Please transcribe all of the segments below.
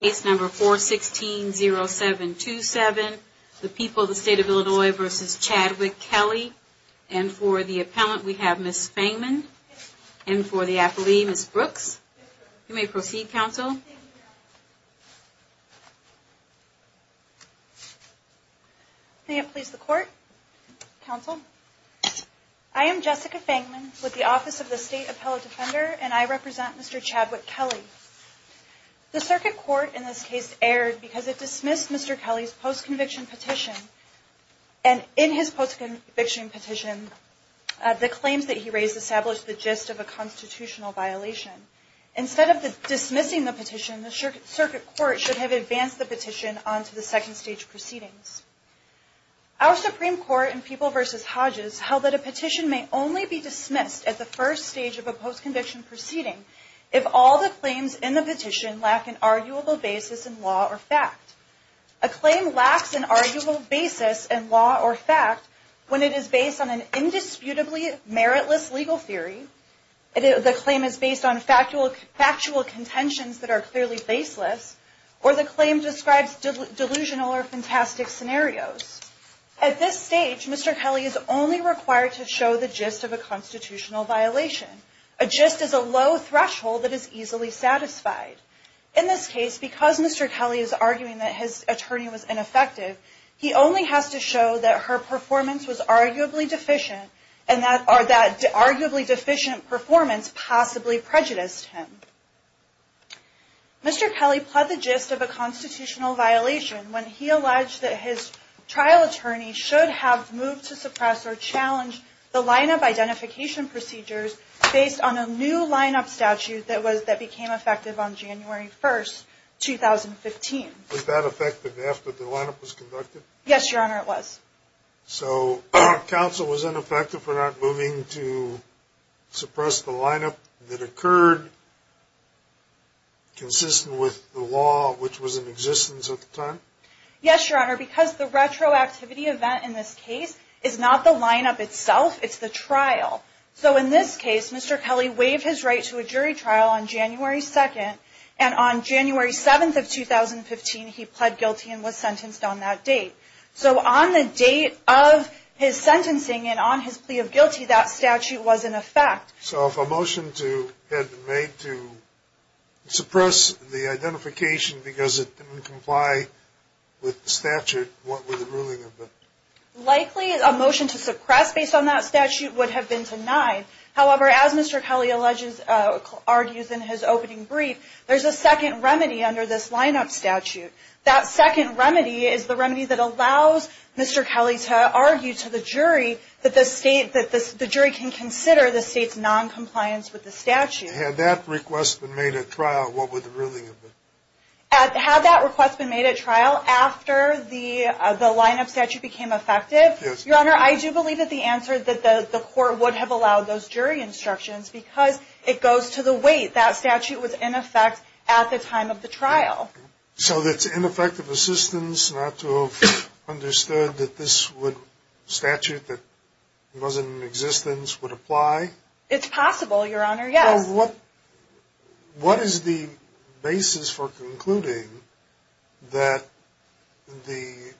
416-0727, the people of the state of Illinois v. Chadwick Kelley. And for the appellant, we have Ms. Fangman. And for the appellee, Ms. Brooks. You may proceed, counsel. Thank you, Your Honor. May it please the court, counsel? I am Jessica Fangman with the Office of the State Appellate Defender and I represent Mr. Chadwick Kelley. The circuit court in this case erred because it dismissed Mr. Kelley's post-conviction petition. And in his post-conviction petition, the claims that he raised established the gist of a constitutional violation. Instead of dismissing the petition, the circuit court should have advanced the petition onto the second stage proceedings. Our Supreme Court in People v. Hodges held that a petition may only be dismissed at the first stage of a post-conviction proceeding if all the claims in the petition lack an arguable basis in law or fact. A claim lacks an arguable basis in law or fact when it is based on an indisputably meritless legal theory, the claim is based on factual contentions that are clearly baseless, or the claim describes delusional or fantastic scenarios. At this stage, Mr. Kelley is only required to show the gist of a constitutional violation. A gist is a low threshold that is easily satisfied. In this case, because Mr. Kelley is arguing that his attorney was ineffective, he only has to show that her performance was arguably deficient, and that arguably deficient performance possibly prejudiced him. Mr. Kelley pled the gist of a constitutional violation when he alleged that his trial attorney should have moved to suppress or challenge the line-up identification procedures based on a new line-up statute that became effective on January 1st, 2015. Was that effective after the line-up was conducted? Yes, Your Honor, it was. So, counsel was ineffective for not moving to suppress the line-up that occurred consistent with the law which was in existence at the time? Yes, Your Honor, because the retroactivity event in this case is not the line-up itself, it's the trial. So, in this case, Mr. Kelley waived his right to a jury trial on January 2nd, and on January 7th of 2015, he pled guilty and was sentenced on that date. So, on the date of his sentencing and on his plea of guilty, that statute was in effect. So, if a motion had been made to suppress the identification because it didn't comply with the statute, what would the ruling have been? Likely, a motion to suppress based on that statute would have been denied. However, as Mr. Kelley argues in his opening brief, there's a second remedy under this line-up statute. That second remedy is the remedy that allows Mr. Kelley to argue to the jury that the jury can consider the state's noncompliance with the statute. Had that request been made at trial, what would the ruling have been? Had that request been made at trial after the line-up statute became effective? Yes. Your Honor, I do believe that the court would have allowed those jury instructions because it goes to the weight. That statute was in effect at the time of the trial. So, it's ineffective assistance not to have understood that this statute that wasn't in existence would apply? It's possible, Your Honor, yes. Well, what is the basis for concluding that the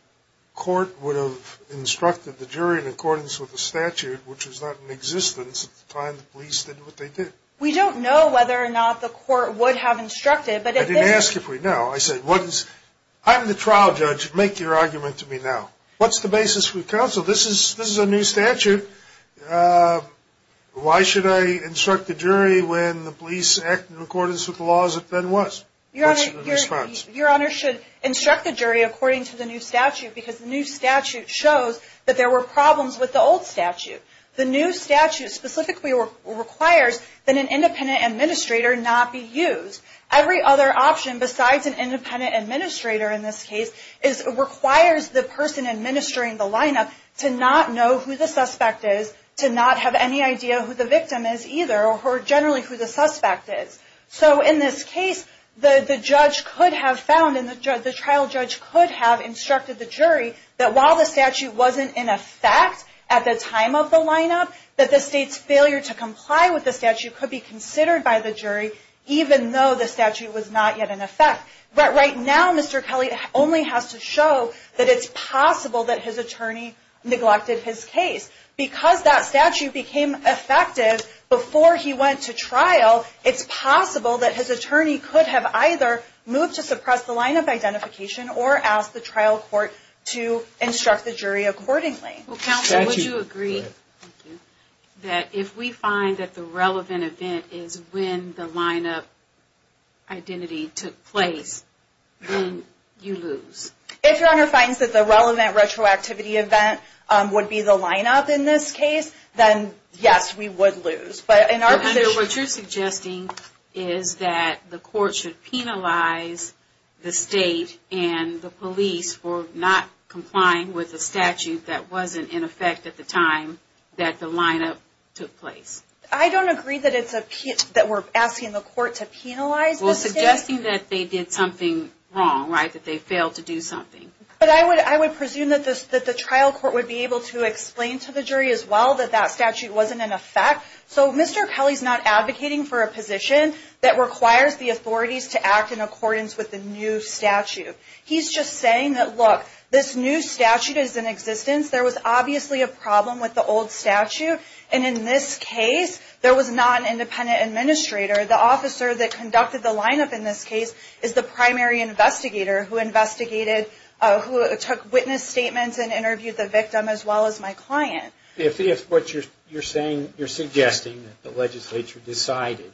court would have instructed the jury in accordance with the statute, which was not in existence at the time the police did what they did? We don't know whether or not the court would have instructed, but if they... I didn't ask if we know. I said, I'm the trial judge. Make your argument to me now. What's the basis for the counsel? This is a new statute. Why should I instruct the jury when the police act in accordance with the laws that then was? Your Honor, your Honor should instruct the jury according to the new statute because the new statute shows that there were problems with the old statute. The new statute specifically requires that an independent administrator not be used. Every other option besides an independent administrator in this case requires the person administering the lineup to not know who the suspect is, to not have any idea who the victim is either, or generally who the suspect is. So, in this case, the trial judge could have instructed the jury that while the statute wasn't in effect at the time of the lineup, that the state's failure to comply with the statute could be considered by the jury even though the statute was not yet in effect. But right now, Mr. Kelly only has to show that it's possible that his attorney neglected his case. Because that statute became effective before he went to trial, it's possible that his attorney could have either moved to suppress the line of identification or asked the trial court to instruct the jury accordingly. Counsel, would you agree that if we find that the relevant event is when the lineup identity took place, then you lose? If your Honor finds that the relevant retroactivity event would be the lineup in this case, then yes, we would lose. But in our view, what you're suggesting is that the court should penalize the state and the police for not complying with the statute that wasn't in effect at the time that the lineup took place. I don't agree that we're asking the court to penalize the state. We're suggesting that they did something wrong, right? That they failed to do something. But I would presume that the trial court would be able to explain to the jury as well that that statute wasn't in effect. So, Mr. Kelly's not advocating for a position that requires the authorities to act in accordance with the new statute. He's just saying that, look, this new statute is in existence. There was obviously a problem with the old statute. And in this case, there was not an independent administrator. The officer that conducted the lineup in this case is the primary investigator who investigated, who took witness statements and interviewed the victim as well as my client. If what you're saying, you're suggesting that the legislature decided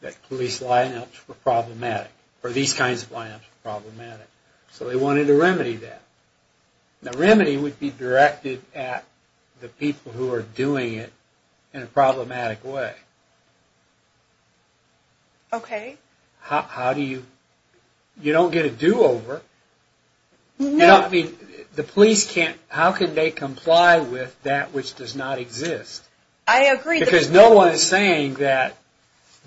that police lineups were problematic, or these kinds of lineups were problematic. So they wanted to remedy that. The remedy would be directed at the people who are doing it in a problematic way. Okay. How do you, you don't get a do-over. You know, I mean, the police can't, how can they comply with that which does not exist? I agree. Because no one is saying that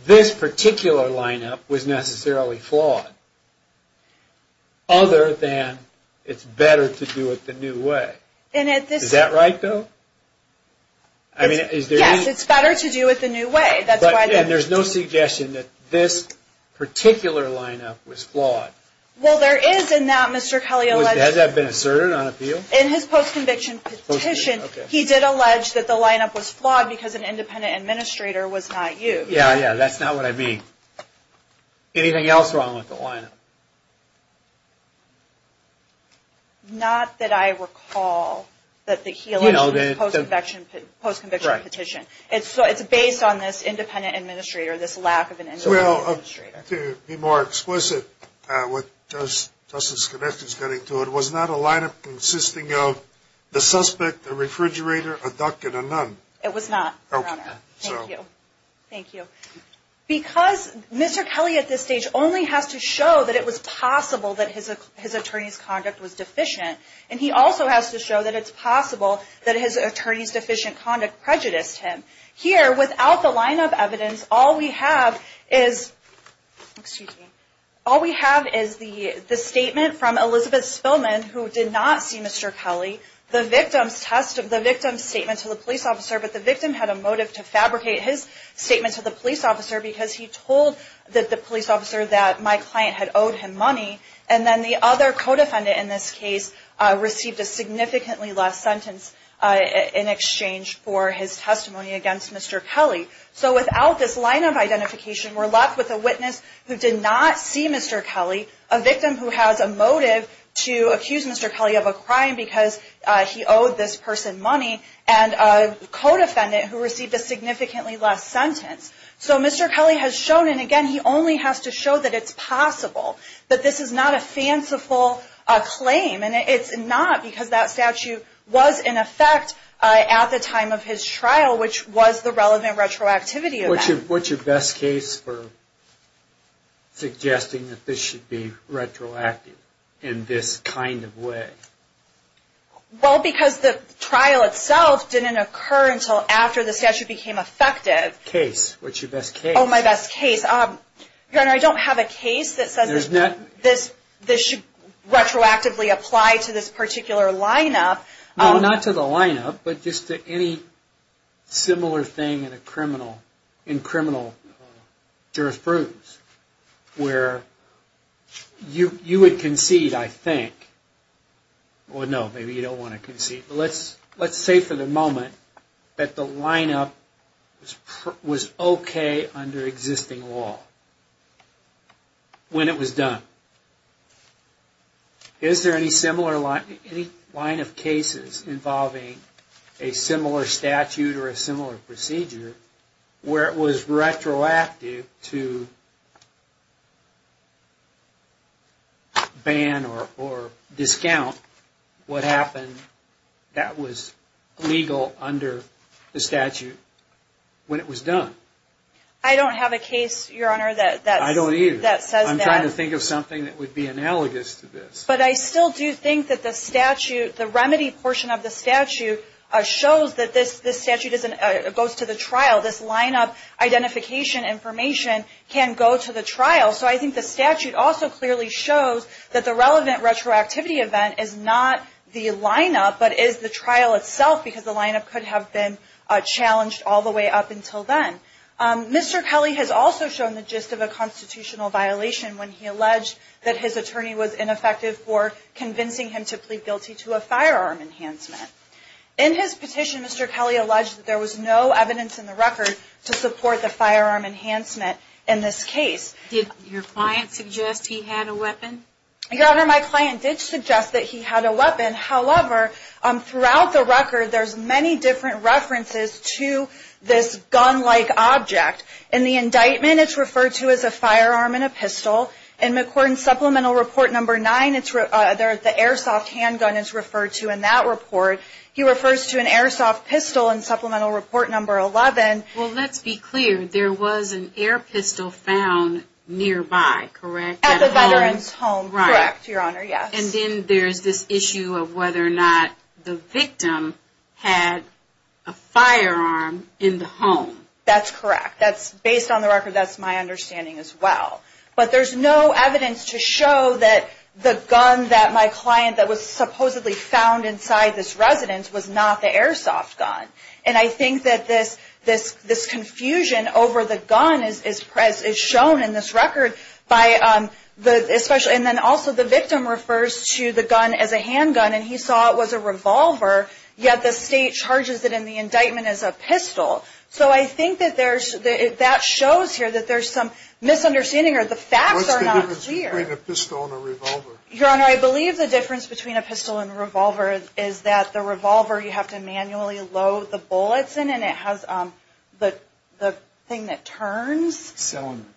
this particular lineup was necessarily flawed. Other than it's better to do it the new way. Is that right, though? I mean, is there any... Yes, it's better to do it the new way. That's why... And there's no suggestion that this particular lineup was flawed. Well, there is in that, Mr. Kelly alleged... Has that been asserted on appeal? In his post-conviction petition, he did allege that the lineup was flawed because an independent administrator was not used. Yeah, yeah, that's not what I mean. Anything else wrong with the lineup? Not that I recall that he alleged in his post-conviction petition. It's based on this independent administrator, this lack of an independent administrator. Well, to be more explicit with Justice Skenetis getting to it, was not a lineup consisting of the suspect, a refrigerator, a duck, and a nun? It was not, Your Honor. Thank you. Thank you. Because Mr. Kelly at this stage only has to show that it was possible that his attorney's conduct was deficient. And he also has to show that it's possible that his attorney's deficient conduct prejudiced him. Here, without the lineup evidence, all we have is... Excuse me. All we have is the statement from Elizabeth Spillman, who did not see Mr. Kelly. The victim's statement to the police officer, but the victim had a motive to fabricate his statement to the police officer because he told the police officer that my client had owed him money. And then the other co-defendant in this case received a significantly less sentence in exchange for his testimony against Mr. Kelly. So without this lineup identification, we're left with a witness who did not see Mr. Kelly, a victim who has a motive to accuse Mr. Kelly of a crime because he owed this person money, and a co-defendant who received a significantly less sentence. So Mr. Kelly has shown, and again, he only has to show that it's possible that this is not a fanciful claim. And it's not because that statue was in effect at the time of his trial, which was the relevant retroactivity of that. What's your best case for suggesting that this should be retroactive in this kind of way? Well, because the trial itself didn't occur until after the statue became effective. Case. What's your best case? Oh, my best case. Your Honor, I don't have a case that says this should retroactively apply to this particular lineup. No, not to the lineup, but just to any similar thing in criminal jurisprudence where you would concede, I think. Well, no, maybe you don't want to concede. Let's say for the moment that the lineup was okay under existing law when it was done. Is there any similar line of cases involving a similar statute or a similar procedure where it was retroactive to ban or discount what happened that was legal under the statute when it was done? I don't have a case, Your Honor, that says that. I don't either. I'm trying to think of something that would be analogous to this. But I still do think that the statute, the remedy portion of the statute, shows that this statute goes to the trial. This lineup identification information can go to the trial. So I think the statute also clearly shows that the relevant retroactivity event is not the lineup, but is the trial itself because the lineup could have been challenged all the way up until then. Mr. Kelly has also shown the gist of a constitutional violation when he alleged that his attorney was ineffective for convincing him to plead guilty to a firearm enhancement. In his petition, Mr. Kelly alleged that there was no evidence in the record to support the firearm enhancement in this case. Did your client suggest he had a weapon? Your Honor, my client did suggest that he had a weapon. However, throughout the record, there's many different references to this gun-like object. In the indictment, it's referred to as a firearm and a pistol. In McCord's Supplemental Report Number 9, the airsoft handgun is referred to in that report. He refers to an airsoft pistol in Supplemental Report Number 11. Well, let's be clear. There was an air pistol found nearby, correct? At the veteran's home, correct, Your Honor, yes. And then there's this issue of whether or not the victim had a firearm in the home. That's correct. Based on the record, that's my understanding as well. But there's no evidence to show that the gun that my client that was supposedly found inside this residence was not the airsoft gun. And I think that this confusion over the gun is shown in this record. And then also the victim refers to the gun as a handgun, and he saw it was a revolver, yet the state charges it in the indictment as a pistol. So I think that that shows here that there's some misunderstanding or the facts are not clear. What's the difference between a pistol and a revolver? Your Honor, I believe the difference between a pistol and a revolver is that the revolver you have to manually load the bullets in, and it has the thing that turns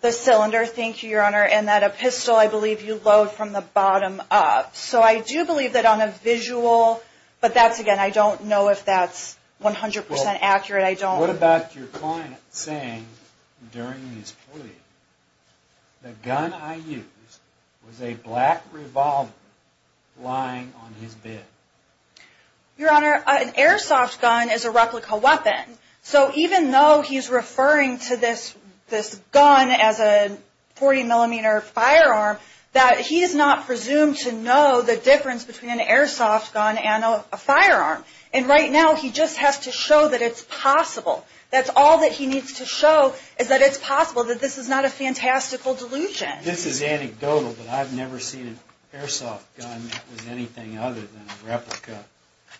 the cylinder. Thank you, Your Honor. And that a pistol, I believe you load from the bottom up. So I do believe that on a visual, but that's again, I don't know if that's 100% accurate. I don't... What about your client saying during his plea, the gun I used was a black revolver lying on his bed? Your Honor, an airsoft gun is a replica weapon. So even though he's referring to this gun as a 40 millimeter firearm, that he is not presumed to know the difference between an airsoft gun and a firearm. And right now he just has to show that it's possible. That's all that he needs to show is that it's possible, that this is not a fantastical delusion. This is anecdotal, but I've never seen an airsoft gun that was anything other than a replica.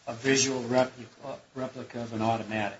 A visual replica of an automatic,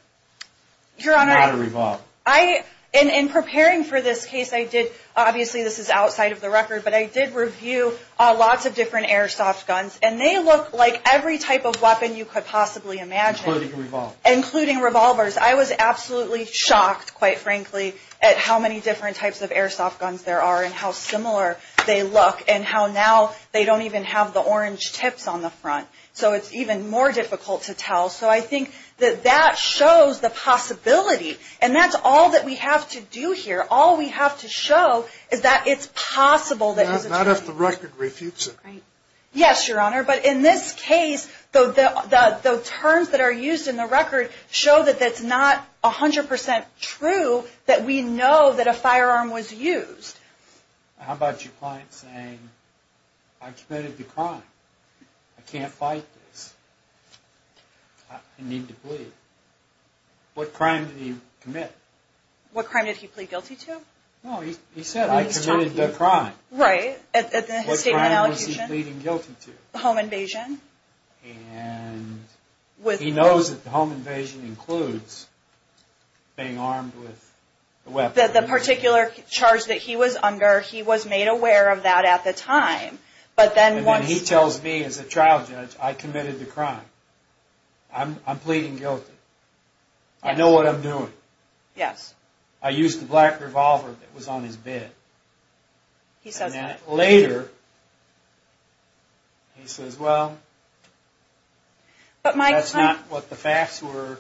not a revolver. I, in preparing for this case, I did, obviously this is outside of the record, but I did review lots of different airsoft guns and they look like every type of weapon you could possibly imagine. Including revolvers. Including revolvers. I was absolutely shocked, quite frankly, at how many different types of airsoft guns there are and how similar they look and how now they don't even have the orange tips on the front. So it's even more difficult to tell. So I think that that shows the possibility. And that's all that we have to do here. All we have to show is that it's possible that this is a... Not if the record refutes it. Yes, Your Honor. But in this case, the terms that are used in the record show that it's not 100% true that we know that a firearm was used. How about your client saying, I committed a crime. I can't fight this. I need to plead. What crime did he commit? What crime did he plead guilty to? No, he said, I committed a crime. Right. What crime was he pleading guilty to? Home invasion. And he knows that the home invasion includes being armed with a weapon. The particular charge that he was under, he was made aware of that at the time. But then once... And then he tells me as a trial judge, I committed the crime. I'm pleading guilty. I know what I'm doing. Yes. I used the black revolver that was on his bed. He says that. That's not what the facts were.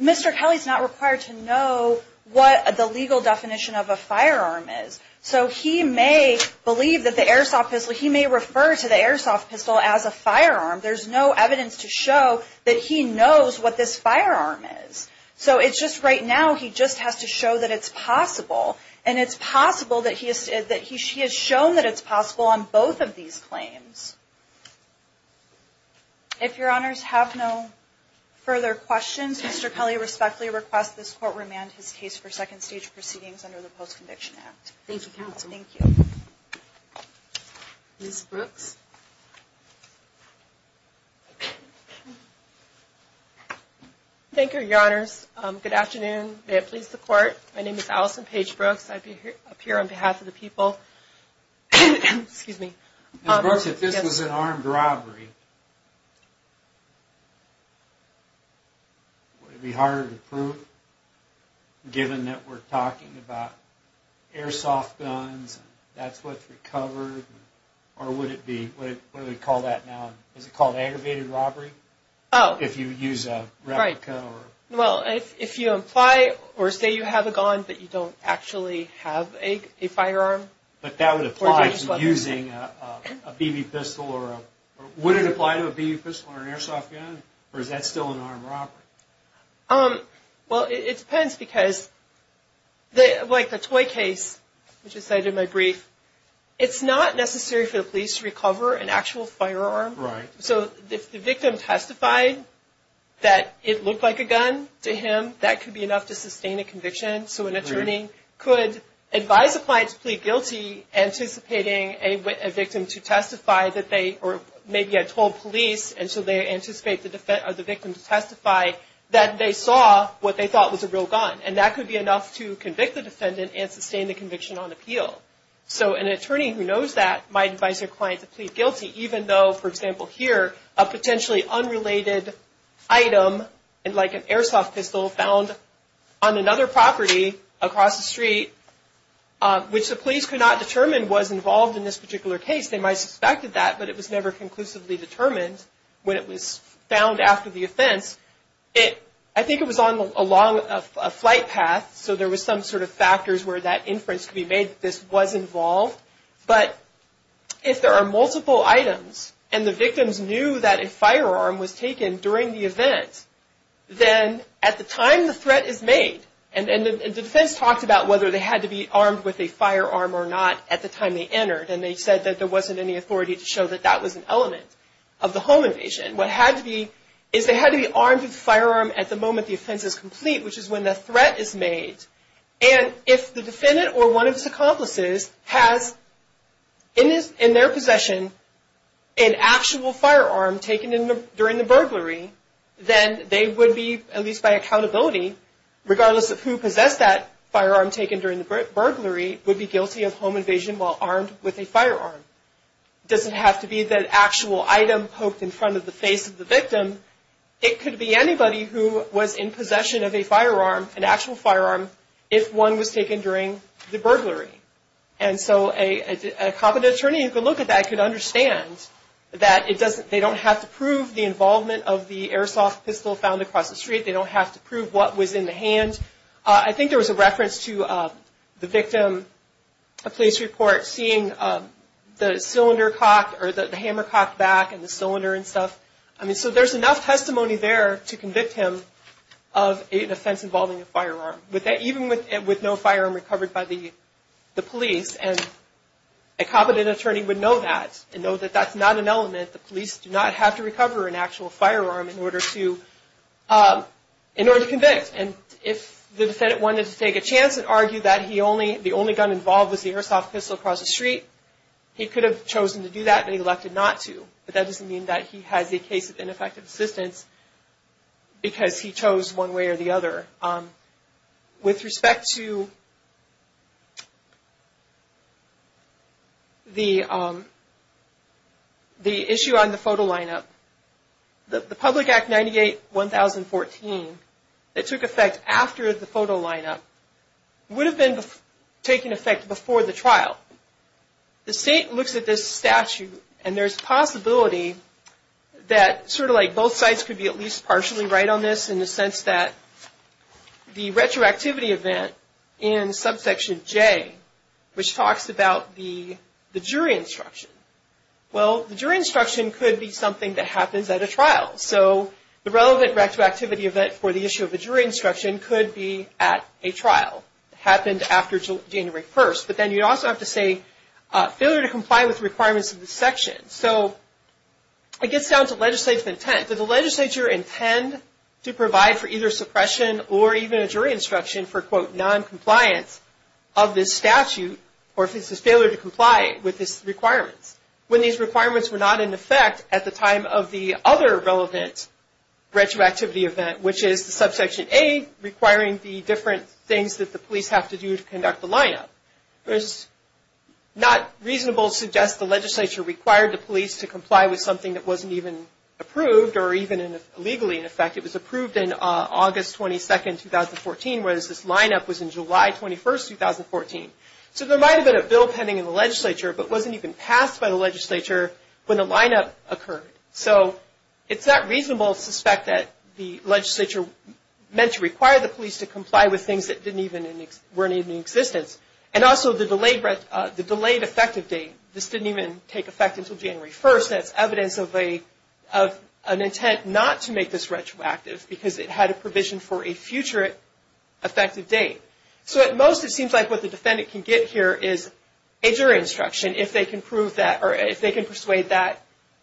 Mr. Kelly's not required to know what the legal definition of a firearm is. So he may believe that the airsoft pistol, he may refer to the airsoft pistol as a firearm. There's no evidence to show that he knows what this firearm is. So it's just right now, he just has to show that it's possible. And it's possible that he has shown that it's possible on both of these claims. If your honors have no further questions, Mr. Kelly respectfully requests this court remand his case for second stage proceedings under the Post-Conviction Act. Thank you counsel. Thank you. Ms. Brooks. Thank you, your honors. Good afternoon. May it please the court. My name is Allison Paige Brooks. I appear on behalf of the people. Excuse me. Ms. Brooks, if this was an armed robbery, would it be harder to prove? Given that we're talking about airsoft guns, that's what's recovered. Or would it be, what do they call that now? Is it called aggravated robbery? Oh. If you use a replica or? Well, if you imply or say you have a gun, but you don't actually have a firearm. But that would apply to using a BB pistol or a, would it apply to a BB pistol or an airsoft gun? Or is that still an armed robbery? Well, it depends because like the toy case, which is cited in my brief, it's not necessary for the police to recover an actual firearm. Right. So if the victim testified that it looked like a gun to him, that could be enough to sustain a conviction. So an attorney could advise a client to plead guilty, anticipating a victim to testify that they, or maybe had told police and so they anticipate the victim to testify that they saw what they thought was a real gun. And that could be enough to convict the defendant and sustain the conviction on appeal. So an attorney who knows that might advise their client to plead guilty, even though, for example, here, a potentially unrelated item like an airsoft pistol found on another property across the street, which the police could not determine was involved in this particular case. They might have suspected that, but it was never conclusively determined when it was found after the offense. I think it was along a flight path. So there was some sort of factors where that inference could be made that this was involved. But if there are multiple items, and the victims knew that a firearm was taken during the event, then at the time the threat is made, and the defense talked about whether they had to be armed with a firearm or not at the time they entered. And they said that there wasn't any authority to show that that was an element of the home invasion. What had to be, is they had to be armed with a firearm at the moment the offense is complete, which is when the threat is made. And if the defendant or one of his accomplices has in their possession an actual firearm taken during the burglary, then they would be, at least by accountability, regardless of who possessed that firearm taken during the burglary, would be guilty of home invasion while armed with a firearm. It doesn't have to be that actual item poked in front of the face of the victim. It could be anybody who was in possession of a firearm, an actual firearm, if one was taken during the burglary. And so a competent attorney who could look at that could understand that they don't have to prove the involvement of the airsoft pistol found across the street. They don't have to prove what was in the hand. I think there was a reference to the victim, a police report, seeing the cylinder cocked, or the hammer cocked back, and the cylinder and stuff. I mean, so there's enough testimony there to convict him of an offense involving a firearm, even with no firearm recovered by the police. And a competent attorney would know that and know that that's not an element. The police do not have to recover an actual firearm in order to convict. And if the defendant wanted to take a chance and argue that the only gun involved was the airsoft pistol across the street, he could have chosen to do that, but he elected not to. But that doesn't mean that he has a case of ineffective assistance, because he chose one way or the other. With respect to the issue on the photo lineup, the Public Act 98-1014 that took effect after the photo lineup would have been taking effect before the trial. The state looks at this statute, and there's a possibility that sort of like both sides could be at least partially right on this, in the sense that the retroactivity event in subsection J, which talks about the jury instruction. Well, the jury instruction could be something that happens at a trial. So the relevant retroactivity event for the issue of a jury instruction could be at a trial, happened after January 1st. But then you'd also have to say, failure to comply with requirements of the section. So it gets down to legislative intent. Does the legislature intend to provide for either suppression or even a jury instruction for, quote, noncompliance of this statute, or if it's a failure to comply with these requirements, when these requirements were not in effect at the time of the other relevant retroactivity event, which is the subsection A, requiring the different things that the police have to do to conduct the lineup. There's not reasonable to suggest the legislature required the police to comply with something that wasn't even approved or even legally in effect. It was approved in August 22nd, 2014, whereas this lineup was in July 21st, 2014. So there might have been a bill pending in the legislature, but wasn't even passed by the legislature when the lineup occurred. So it's not reasonable to suspect that the legislature meant to require the police to comply with things that weren't even in existence. And also, the delayed effective date. This didn't even take effect until January 1st. That's evidence of an intent not to make this retroactive, because it had a provision for a future effective date. So at most, it seems like what the defendant can get here is a jury instruction, if they can prove that,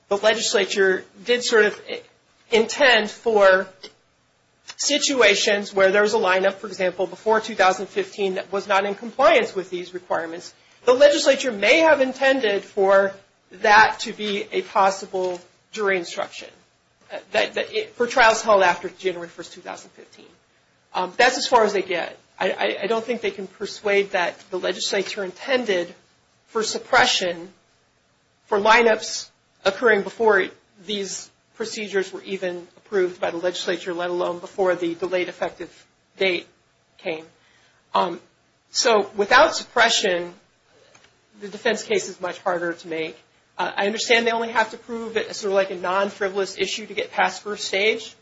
the legislature did sort of intend for situations where there was a lineup, for example, before 2015, that was not in compliance with these requirements. The legislature may have intended for that to be a possible jury instruction, for trials held after January 1st, 2015. That's as far as they get. I don't think they can persuade that the legislature intended for suppression for lineups occurring before these procedures were even approved by the legislature, let alone before the delayed effective date came. So without suppression, the defense case is much harder to make. I understand they only have to prove it as sort of like a non-frivolous issue to get past first stage.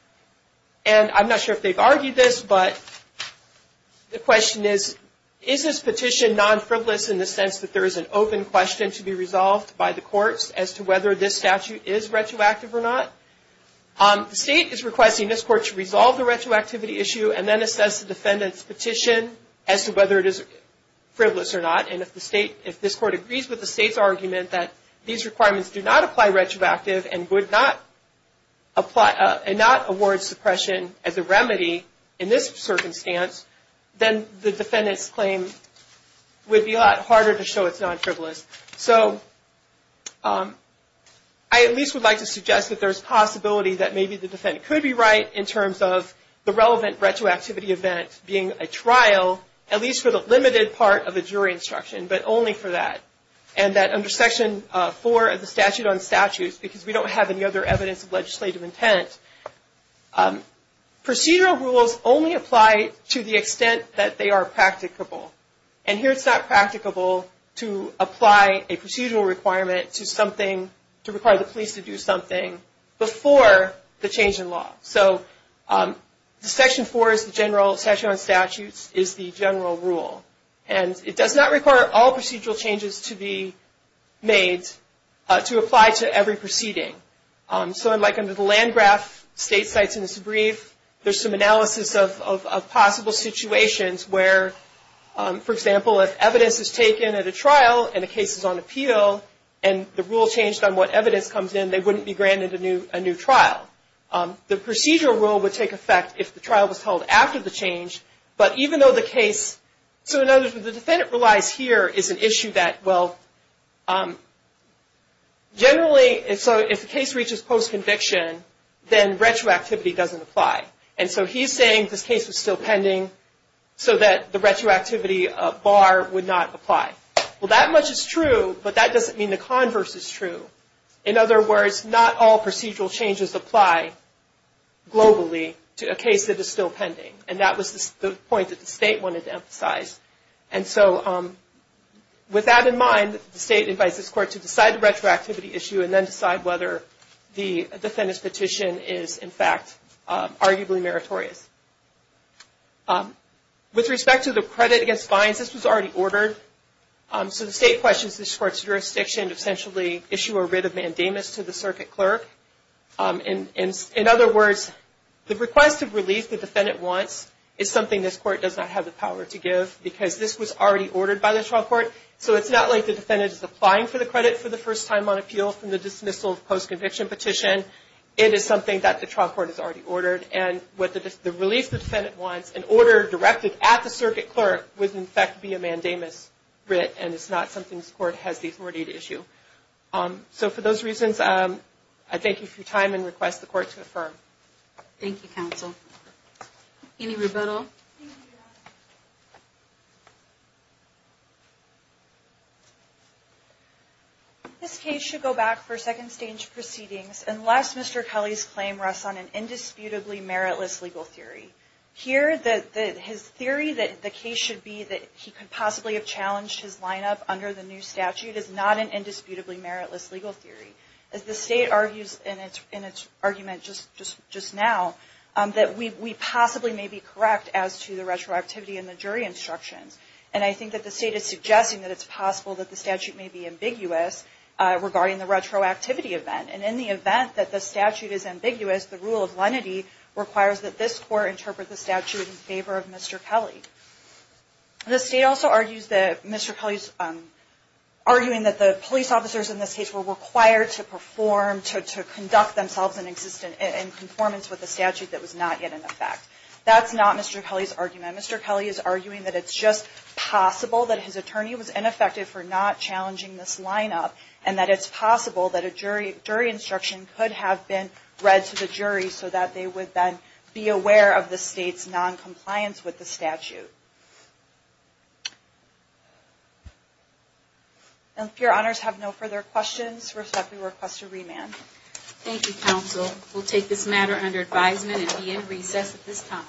And I'm not sure if they've argued this, but the question is, is this petition non-frivolous in the sense that there is an open question to be resolved by the courts as to whether this statute is retroactive or not? The state is requesting this court to resolve the retroactivity issue and then assess the defendant's petition as to whether it is frivolous or not. And if this court agrees with the state's argument that these requirements do not apply retroactive and would not award suppression as a remedy in this circumstance, then the defendant's claim would be a lot harder to show it's non-frivolous. So I at least would like to suggest that there's a possibility that maybe the defendant could be right in terms of the relevant retroactivity event being a trial, at least for the limited part of the jury instruction, but only for that. And that under Section 4 of the Statute on Statutes, because we don't have any other evidence of legislative intent, procedural rules only apply to the extent that they are practicable. And here it's not practicable to apply a procedural requirement to something to require the police to do something before the change in law. So Section 4 of the General Statute on Statutes is the general rule. And it does not require all procedural changes to be made to apply to every proceeding. So like under the land graph, state sites in this brief, there's some analysis of possible situations where, for example, if evidence is taken at a trial and the case is on appeal and the rule changed on what evidence comes in, they wouldn't be granted a new trial. The procedural rule would take effect if the trial was held after the change. But even though the case, so in other words, the defendant relies here is an issue that, well, generally, so if the case reaches post-conviction, then retroactivity doesn't apply. And so he's saying this case was still pending so that the retroactivity bar would not apply. Well, that much is true, but that doesn't mean the converse is true. In other words, not all procedural changes apply globally to a case that is still pending. And that was the point that the state wanted to emphasize. And so with that in mind, the state invites this court to decide the retroactivity issue and then decide whether the defendant's petition is, in fact, arguably meritorious. With respect to the credit against fines, this was already ordered. So the state questions this court's jurisdiction to essentially issue a writ of mandamus to the circuit clerk. In other words, the request of relief the defendant wants is something this court does not have the power to give because this was already ordered by the trial court. So it's not like the defendant is applying for the credit for the first time on appeal from the dismissal of post-conviction petition. It is something that the trial court has already ordered. And the relief the defendant wants, an order directed at the circuit clerk, would, in fact, be a mandamus writ. And it's not something this court has the authority to issue. So for those reasons, I thank you for your time and request the court to affirm. Thank you, counsel. Any rebuttal? Thank you, Your Honor. This case should go back for second stage proceedings unless Mr. Kelly's claim rests on an indisputably meritless legal theory. Here, his theory that the case should be that he could possibly have challenged his lineup under the new statute is not an indisputably meritless legal theory. As the state argues in its argument just now, that we possibly may be correct as to the retroactivity in the jury instructions. And I think that the state is suggesting that it's possible that the statute may be ambiguous regarding the retroactivity event. And in the event that the statute is ambiguous, the rule of lenity requires that this court interpret the statute in favor of Mr. Kelly. The state also argues that Mr. Kelly's, arguing that the police officers in this case were required to perform, to conduct themselves in existence, in conformance with the statute that was not yet in effect. That's not Mr. Kelly's argument. Mr. Kelly is arguing that it's just possible that his attorney was ineffective for not challenging this lineup. And that it's possible that a jury instruction could have been read to the jury so that they would then be aware of the state's noncompliance with the statute. And if your honors have no further questions, respectfully request a remand. Thank you, counsel. We'll take this matter under advisement and be in recess at this time.